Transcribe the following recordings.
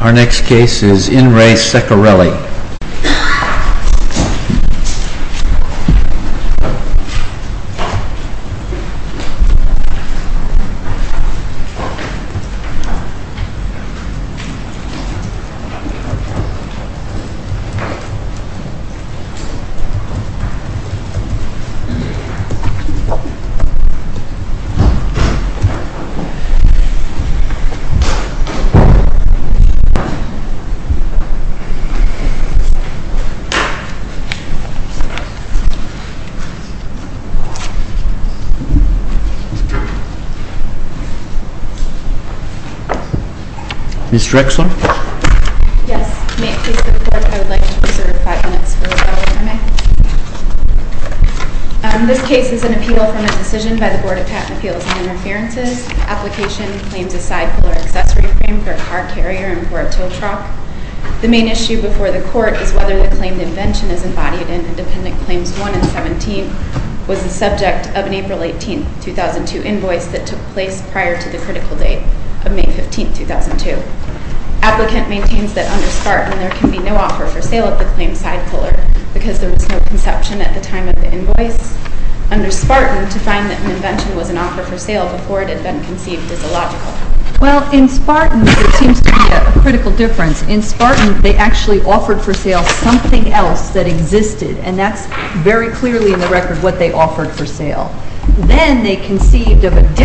Our next case is In Re Ceccarelli. This case is an appeal from a decision by the Board of Patent Appeals and Interferences. This case is an appeal from a decision by the Board of Patent Appeals and Interferences. This case is an appeal from a decision by the Board of Patent Appeals and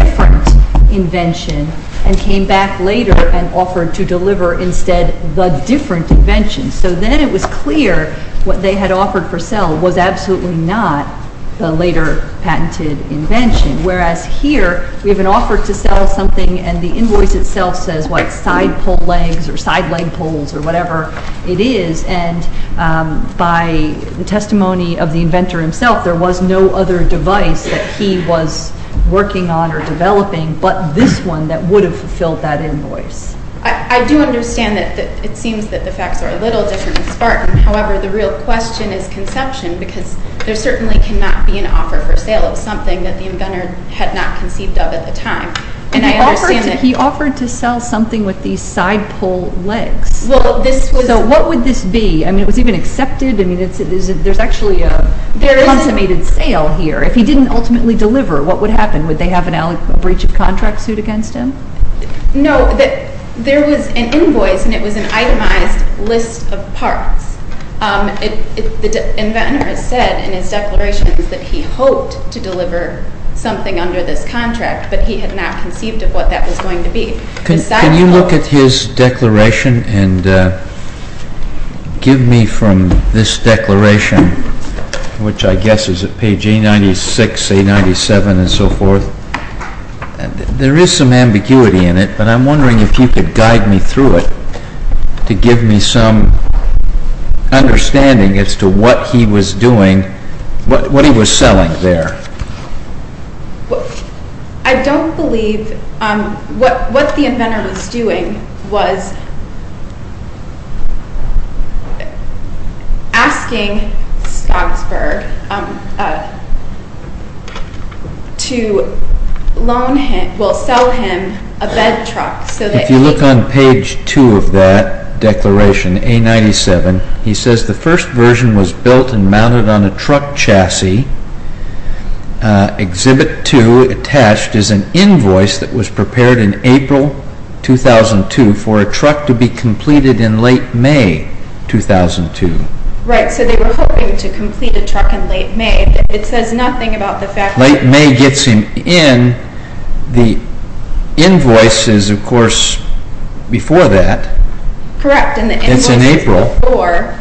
Interferences. and came back later and offered to deliver instead the different invention. So then it was clear what they had offered for sale was absolutely not the later patented invention, whereas here we have an offer to sell something and the invoice itself says what side pole legs or side leg poles or whatever it is, and by the testimony of the inventor himself there was no other device that he was working on or developing, but this one that would have fulfilled that invoice. I do understand that it seems that the facts are a little different in Spartan, however the real question is conception because there certainly cannot be an offer for sale of something that the inventor had not conceived of at the time. And he offered to sell something with these side pole legs. So what would this be? I mean it was even accepted? I mean there's actually a consummated sale here. If he didn't ultimately deliver what would happen? Would they have a breach of contract suit against him? No, there was an invoice and it was an itemized list of parts. The inventor has said in his declaration that he hoped to deliver something under this contract, but he had not conceived of what that was going to be. Can you look at his declaration and give me from this declaration, which I guess is at page A96, A97 and so forth, there is some ambiguity in it, but I'm wondering if you could guide me through it to give me some understanding as to what he was doing, what he was selling there. I don't believe what the inventor was doing was asking Stocksburg to loan him, well sell him a bed truck. If you look on page 2 of that declaration, A97, he says the first version was built and mounted on a truck chassis Exhibit 2 attached is an invoice that was prepared in April 2002 for a truck to be completed in late May 2002. Right, so they were hoping to complete a truck in late May. It says nothing about the fact that... Late May gets him in. The invoice is of course before that. It's in April.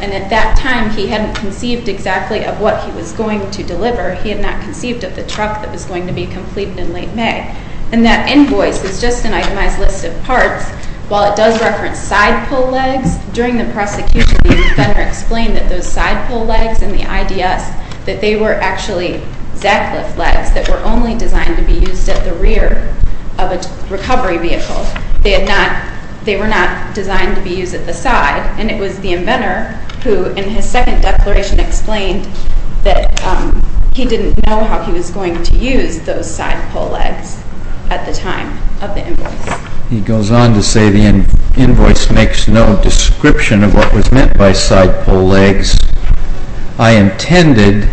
And at that time he hadn't conceived exactly of what he was going to deliver. He had not conceived of the truck that was going to be completed in late May. And that invoice is just an itemized list of parts. While it does reference side pull legs, during the prosecution the inventor explained that those side pull legs and the IDS, that they were actually Zackliff legs that were only designed to be used at the rear of a recovery vehicle. They were not designed to be used at the side. And it was the inventor who in his second declaration explained that he didn't know how he was going to use those side pull legs at the time of the invoice. He goes on to say the invoice makes no description of what was meant by side pull legs. I intended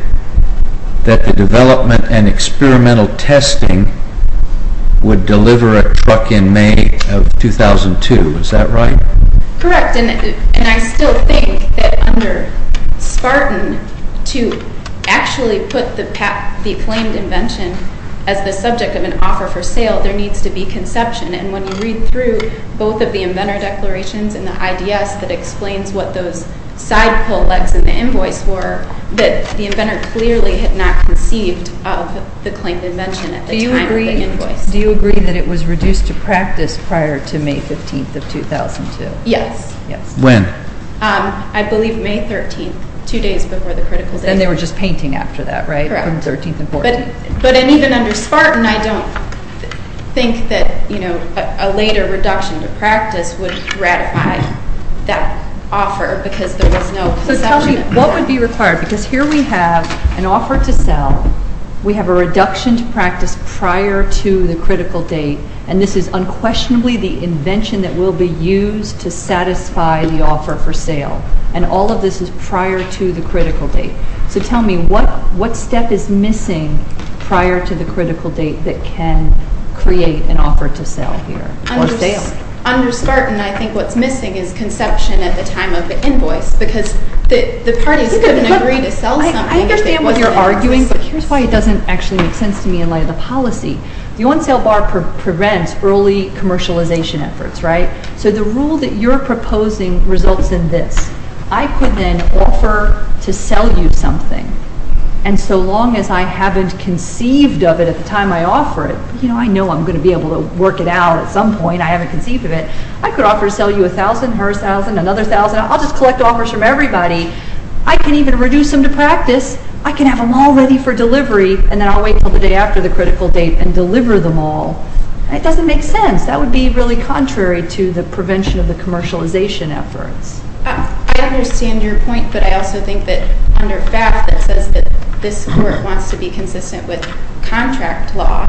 that the development and experimental testing would deliver a truck in May of 2002. Is that right? Correct. And I still think that under Spartan to actually put the claimed invention as the subject of an offer for sale, there needs to be conception. And when you read through both of the inventor declarations and the IDS that explains what those side pull legs in the invoice were, that the inventor clearly had not conceived of the claimed invention at the time of the invoice. Do you agree that it was reduced to practice prior to May 15th of 2002? Yes. When? I believe May 13th, two days before the critical date. And they were just painting after that, right? Correct. From 13th and 14th. But even under Spartan, I don't think that a later reduction to practice would ratify that offer because there was no conception. So tell me, what would be required? Because here we have an offer to sell. We have a reduction to practice prior to the critical date. And this is unquestionably the invention that will be used to satisfy the offer for sale. And all of this is prior to the critical date. So tell me, what step is missing prior to the critical date that can create an offer to sell here or sale? Under Spartan, I think what's missing is conception at the time of the invoice because the parties couldn't agree to sell something. I understand what you're arguing, but here's why it doesn't actually make sense to me in light of the policy. The on-sale bar prevents early commercialization efforts, right? So the rule that you're proposing results in this. I could then offer to sell you something. And so long as I haven't conceived of it at the time I offer it, you know, I know I'm going to be able to work it out at some point. I haven't conceived of it. I could offer to sell you $1,000, her $1,000, another $1,000. I'll just collect offers from everybody. I can even reduce them to practice. I can have them all ready for delivery, and then I'll wait until the day after the critical date and deliver them all. It doesn't make sense. That would be really contrary to the prevention of the commercialization efforts. I understand your point, but I also think that under FAFSA it says that this court wants to be consistent with contract law,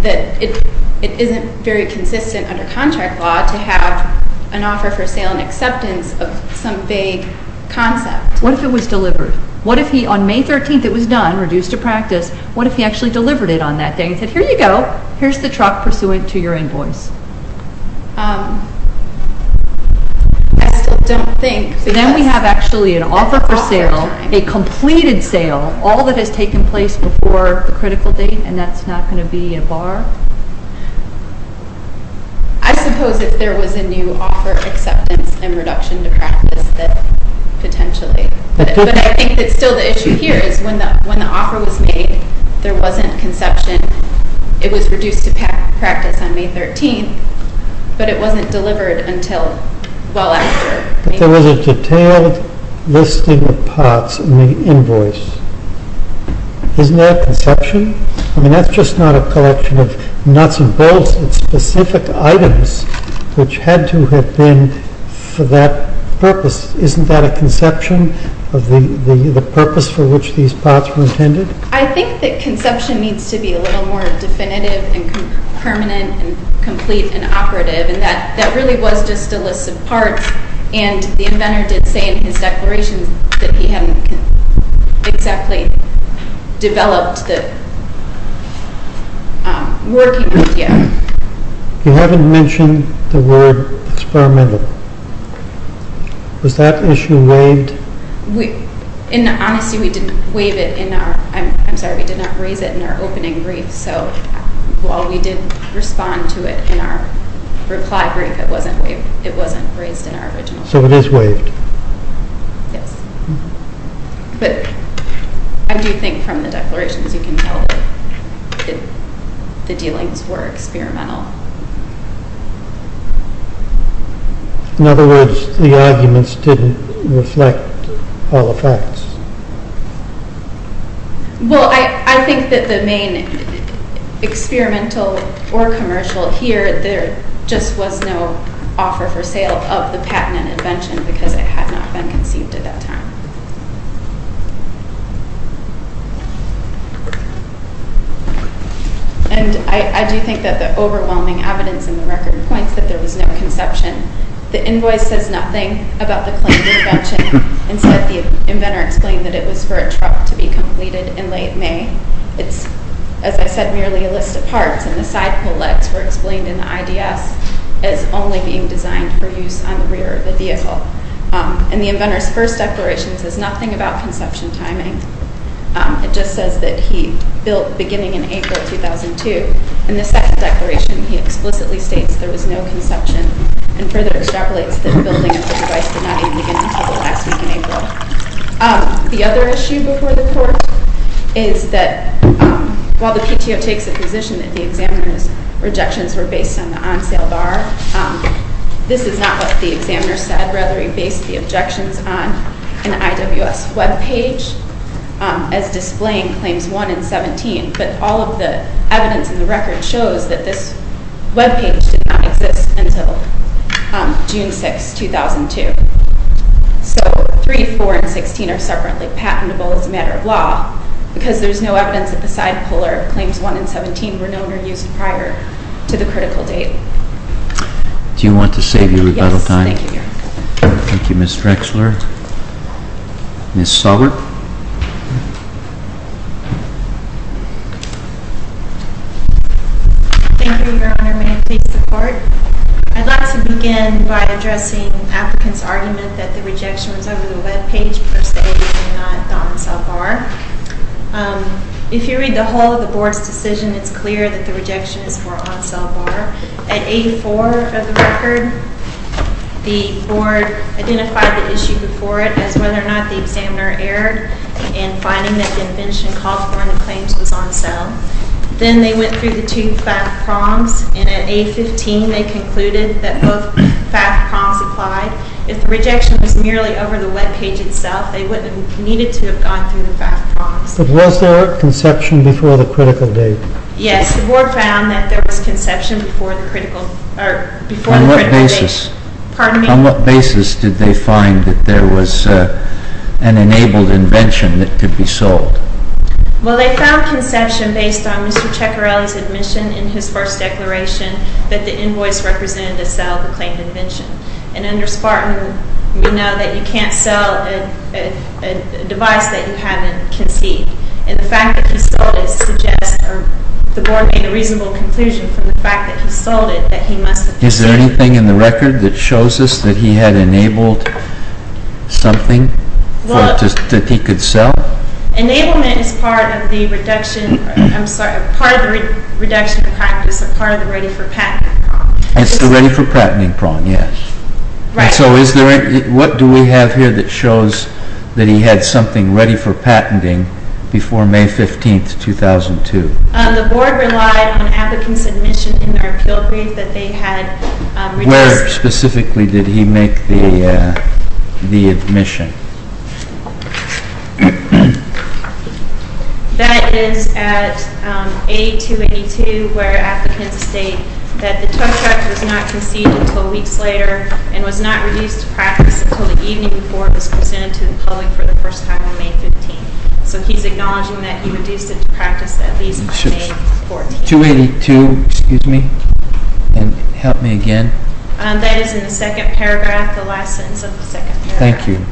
that it isn't very consistent under contract law to have an offer for sale and acceptance of some vague concept. What if it was delivered? What if he, on May 13th it was done, reduced to practice, what if he actually delivered it on that day and said, here you go, here's the truck pursuant to your invoice? I still don't think. Then we have actually an offer for sale, a completed sale, all that has taken place before the critical date, and that's not going to be a bar? I suppose if there was a new offer acceptance and reduction to practice that potentially. But I think that still the issue here is when the offer was made, there wasn't conception. It was reduced to practice on May 13th, but it wasn't delivered until well after. But there was a detailed listing of parts in the invoice. Isn't that a conception? I mean that's just not a collection of nuts and bolts. It's specific items which had to have been for that purpose. Isn't that a conception of the purpose for which these parts were intended? I think that conception needs to be a little more definitive and permanent and complete and operative, and that really was just a list of parts, and the inventor did say in his declaration that he hadn't exactly developed the work yet. You haven't mentioned the word experimental. Was that issue waived? In honesty, we did not raise it in our opening brief, so while we did respond to it in our reply brief, it wasn't raised in our original brief. So it is waived? Yes. But I do think from the declarations you can tell that the dealings were experimental. In other words, the arguments didn't reflect all the facts. Well, I think that the main experimental or commercial here, there just was no offer for sale of the patent and invention because it had not been conceived at that time. And I do think that the overwhelming evidence in the record points that there was no conception. The invoice says nothing about the claim of invention. Instead, the inventor explained that it was for a truck to be completed in late May. It's, as I said, merely a list of parts, and the side pole legs were explained in the IDS as only being designed for use on the rear of the vehicle. And the inventor's first declaration says nothing about conception timing. It just says that he built beginning in April 2002. In the second declaration, he explicitly states there was no conception and further extrapolates that the building of the device did not even begin until the last week in April. The other issue before the court is that while the PTO takes a position that the examiner's rejections were based on the on-sale bar, this is not what the examiner said, rather he based the objections on an IWS web page as displaying claims 1 and 17. But all of the evidence in the record shows that this web page did not exist until June 6, 2002. So 3, 4, and 16 are separately patentable as a matter of law because there's no evidence that the side polar of claims 1 and 17 were known or used prior to the critical date. Do you want to save your rebuttal time? Yes, thank you, Your Honor. Thank you, Ms. Drexler. Ms. Sullivan? Thank you, Your Honor. May it please the Court? I'd like to begin by addressing applicants' argument that the rejection was over the web page, per se, and not the on-sale bar. If you read the whole of the Board's decision, it's clear that the rejection is for on-sale bar. At 8-4 of the record, the Board identified the issue before it as whether or not the examiner erred in finding that the invention called for and the claims was on sale. Then they went through the two FAFT prompts, and at 8-15 they concluded that both FAFT prompts applied. If the rejection was merely over the web page itself, they wouldn't have needed to have gone through the FAFT prompts. But was there a conception before the critical date? Yes, the Board found that there was conception before the critical date. On what basis? Pardon me? On what basis did they find that there was an enabled invention that could be sold? Well, they found conception based on Mr. Ceccarelli's admission in his first declaration that the invoice represented a sell-to-claim invention. And under Spartan, we know that you can't sell a device that you haven't conceived. And the fact that he sold it suggests, or the Board made a reasonable conclusion from the fact that he sold it, that he must have conceived it. Is there anything in the record that shows us that he had enabled something that he could sell? Enablement is part of the reduction, I'm sorry, part of the reduction of practice, part of the ready-for-patenting prompt. It's the ready-for-patenting prompt, yes. Right. So what do we have here that shows that he had something ready for patenting before May 15, 2002? The Board relied on applicants' admission in their appeal brief that they had released. Where specifically did he make the admission? That is at 8282, where applicants state that the Tuck Tuck was not conceived until weeks later and was not reduced to practice until the evening before it was presented to the public for the first time on May 15. So he's acknowledging that he reduced it to practice at least on May 14. 282, excuse me, and help me again. That is in the second paragraph, the last sentence of the second paragraph. Thank you.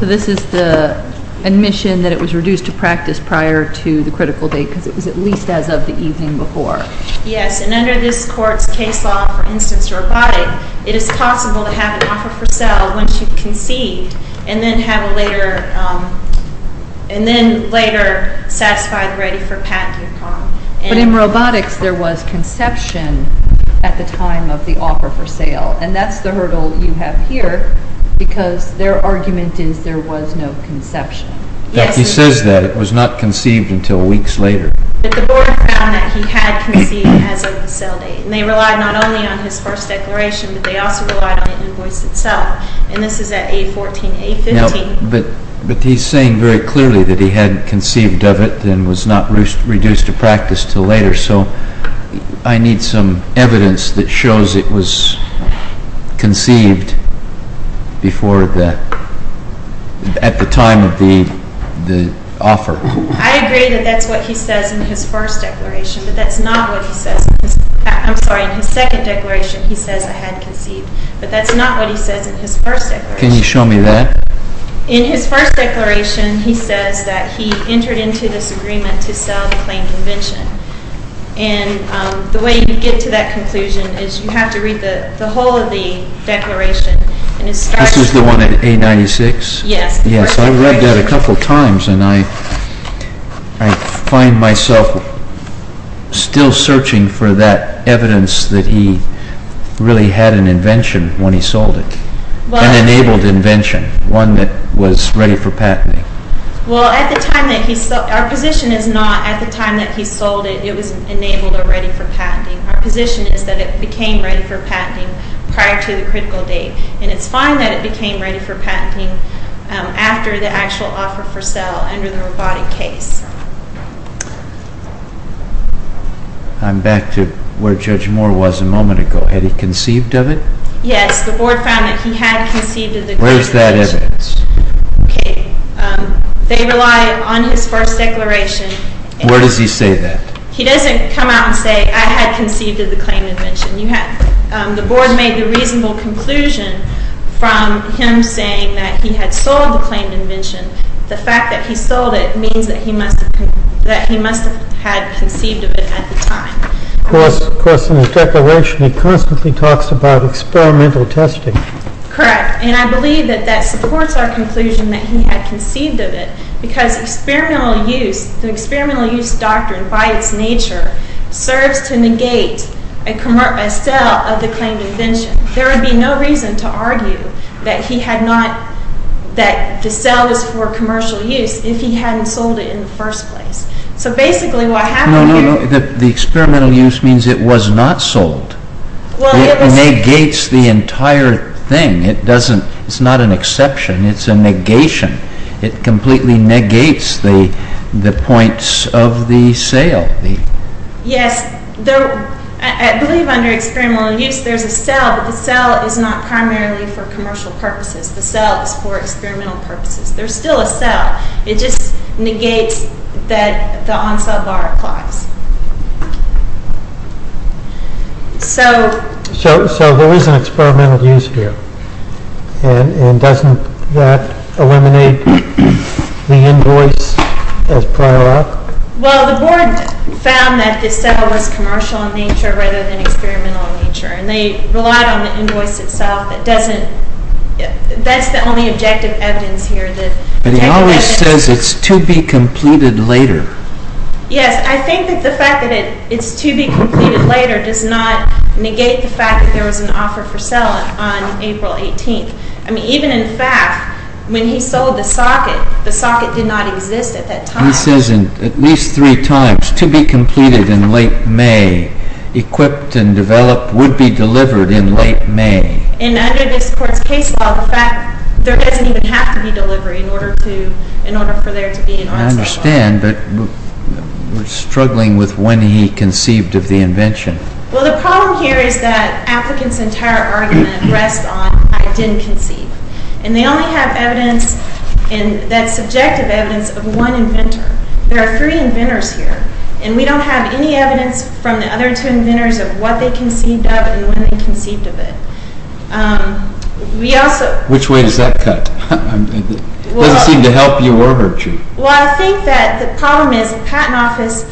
So this is the admission that it was reduced to practice prior to the critical date because it was at least as of the evening before. Yes, and under this court's case law, for instance, robotic, it is possible to have an offer for sale once you've conceived and then have a later, and then later satisfy the ready-for-patenting prompt. But in robotics, there was conception at the time of the offer for sale. And that's the hurdle you have here because their argument is there was no conception. He says that it was not conceived until weeks later. But the Board found that he had conceived as of the sale date. And they relied not only on his first declaration, but they also relied on the invoice itself. And this is at 814, 815. But he's saying very clearly that he hadn't conceived of it and was not reduced to practice until later. So I need some evidence that shows it was conceived before the – at the time of the offer. I agree that that's what he says in his first declaration. But that's not what he says – I'm sorry, in his second declaration, he says I hadn't conceived. But that's not what he says in his first declaration. Can you show me that? In his first declaration, he says that he entered into this agreement to sell the claimed invention. And the way you get to that conclusion is you have to read the whole of the declaration. This is the one at 896? Yes. Yes, I read that a couple of times. And I find myself still searching for that evidence that he really had an invention when he sold it. An enabled invention, one that was ready for patenting. Well, at the time that he – our position is not at the time that he sold it, it was enabled or ready for patenting. Our position is that it became ready for patenting prior to the critical date. And it's fine that it became ready for patenting after the actual offer for sale under the robotic case. I'm back to where Judge Moore was a moment ago. Had he conceived of it? Yes. The Board found that he had conceived of the claimed invention. Where is that evidence? Okay. They rely on his first declaration. Where does he say that? He doesn't come out and say, I had conceived of the claimed invention. The Board made the reasonable conclusion from him saying that he had sold the claimed invention. The fact that he sold it means that he must have had conceived of it at the time. Of course, in his declaration he constantly talks about experimental testing. Correct. And I believe that that supports our conclusion that he had conceived of it, because the experimental use doctrine by its nature serves to negate a sale of the claimed invention. There would be no reason to argue that the sale was for commercial use if he hadn't sold it in the first place. No, no, no. The experimental use means it was not sold. It negates the entire thing. It's not an exception. It's a negation. It completely negates the points of the sale. Yes. I believe under experimental use there's a sale, but the sale is not primarily for commercial purposes. The sale is for experimental purposes. There's still a sale. It just negates that the on-sell bar applies. So there is an experimental use here, and doesn't that eliminate the invoice as prior art? Well, the board found that the sale was commercial in nature rather than experimental in nature, and they relied on the invoice itself. That's the only objective evidence here. But he always says it's to be completed later. Yes. I think that the fact that it's to be completed later does not negate the fact that there was an offer for sale on April 18th. I mean, even in fact, when he sold the socket, the socket did not exist at that time. He says at least three times, to be completed in late May. Equipped and developed would be delivered in late May. And under this Court's case law, the fact there doesn't even have to be delivery in order for there to be an on-sell bar. I understand, but we're struggling with when he conceived of the invention. Well, the problem here is that applicants' entire argument rests on I didn't conceive. And they only have evidence, that subjective evidence, of one inventor. There are three inventors here, and we don't have any evidence from the other two inventors of what they conceived of and when they conceived of it. Which way does that cut? It doesn't seem to help you or hurt you. Well, I think that the problem is the Patent Office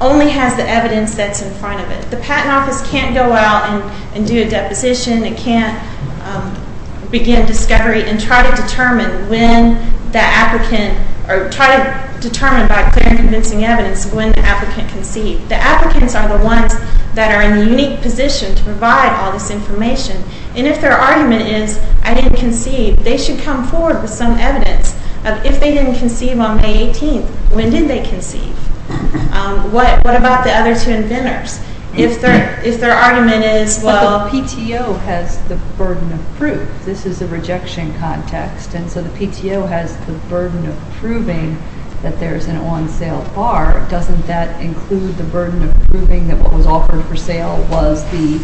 only has the evidence that's in front of it. The Patent Office can't go out and do a deposition. It can't begin discovery and try to determine when the applicant or try to determine by clear and convincing evidence when the applicant conceived. The applicants are the ones that are in the unique position to provide all this information. And if their argument is, I didn't conceive, they should come forward with some evidence of if they didn't conceive on May 18th, when did they conceive? What about the other two inventors? If their argument is, well, the PTO has the burden of proof. This is a rejection context. And so the PTO has the burden of proving that there's an on-sale bar. Doesn't that include the burden of proving that what was offered for sale was the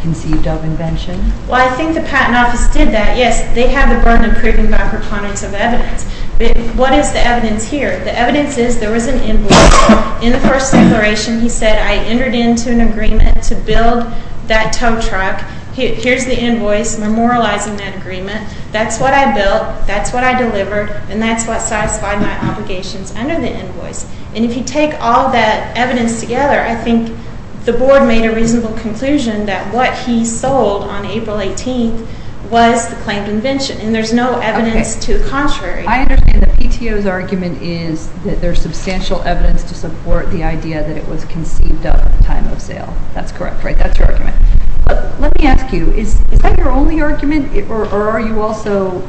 conceived of invention? Well, I think the Patent Office did that. Yes, they have the burden of proving by preponderance of evidence. But what is the evidence here? The evidence is there was an invoice. In the first declaration, he said, I entered into an agreement to build that tow truck. Here's the invoice memorializing that agreement. That's what I built. That's what I delivered. And that's what satisfied my obligations under the invoice. And if you take all that evidence together, I think the board made a reasonable conclusion that what he sold on April 18th was the claimed invention. And there's no evidence to the contrary. I understand the PTO's argument is that there's substantial evidence to support the idea that it was conceived at the time of sale. That's correct, right? That's your argument. But let me ask you, is that your only argument? Or are you also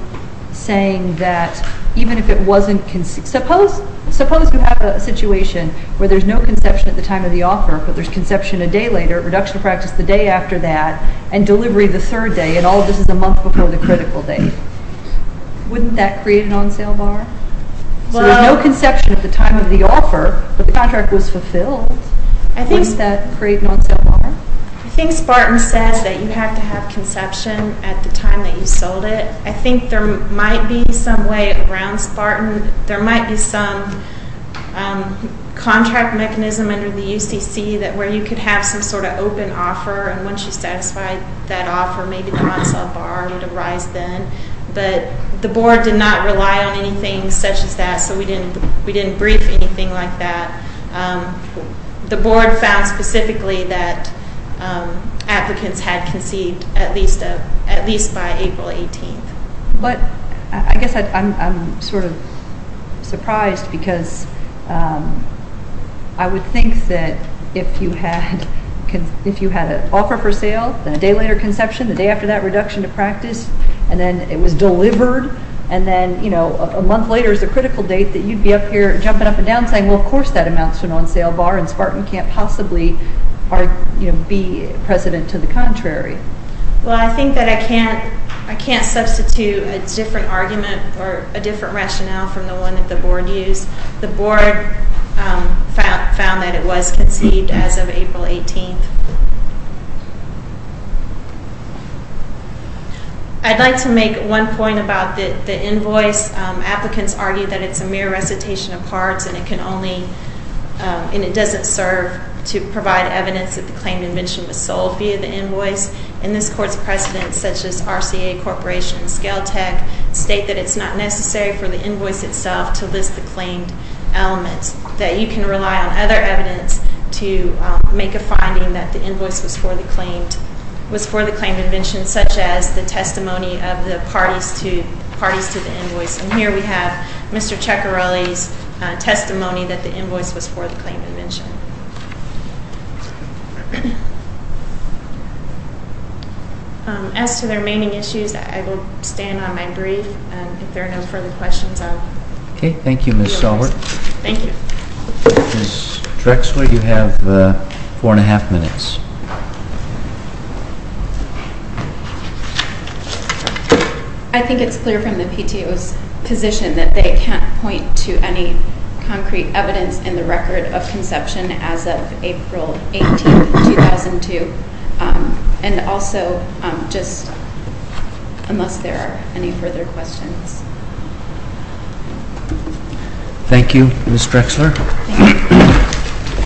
saying that even if it wasn't conceived, suppose you have a situation where there's no conception at the time of the offer, but there's conception a day later, reduction of practice the day after that, and delivery the third day, and all of this is a month before the critical date. Wouldn't that create an on-sale bar? So there's no conception at the time of the offer, but the contract was fulfilled. Wouldn't that create an on-sale bar? I think Spartan says that you have to have conception at the time that you sold it. I think there might be some way around Spartan. There might be some contract mechanism under the UCC where you could have some sort of open offer, and once you satisfy that offer, maybe the on-sale bar would arise then. But the board did not rely on anything such as that, so we didn't brief anything like that. The board found specifically that applicants had conceived at least by April 18th. But I guess I'm sort of surprised because I would think that if you had an offer for sale, then a day later conception, the day after that reduction of practice, and then it was delivered, and then a month later is the critical date that you'd be up here jumping up and down saying, well, of course that amounts to an on-sale bar, and Spartan can't possibly be precedent to the contrary. Well, I think that I can't substitute a different argument or a different rationale from the one that the board used. The board found that it was conceived as of April 18th. I'd like to make one point about the invoice. Applicants argue that it's a mere recitation of parts, and it doesn't serve to provide evidence that the claimed invention was sold via the invoice. And this Court's precedents, such as RCA Corporation and Scale Tech, state that it's not necessary for the invoice itself to list the claimed elements, that you can rely on other evidence to make a finding that the invoice was for the claimed invention, such as the testimony of the parties to the invoice. And here we have Mr. Ceccarelli's testimony that the invoice was for the claimed invention. As to the remaining issues, I will stand on my brief, and if there are no further questions, I will close. Okay. Thank you, Ms. Selbert. Thank you. Ms. Drexler, you have four and a half minutes. I think it's clear from the PTO's position that they can't point to any concrete evidence in the record of conception as of April 18th, 2002. And also, just unless there are any further questions. Thank you, Ms. Drexler.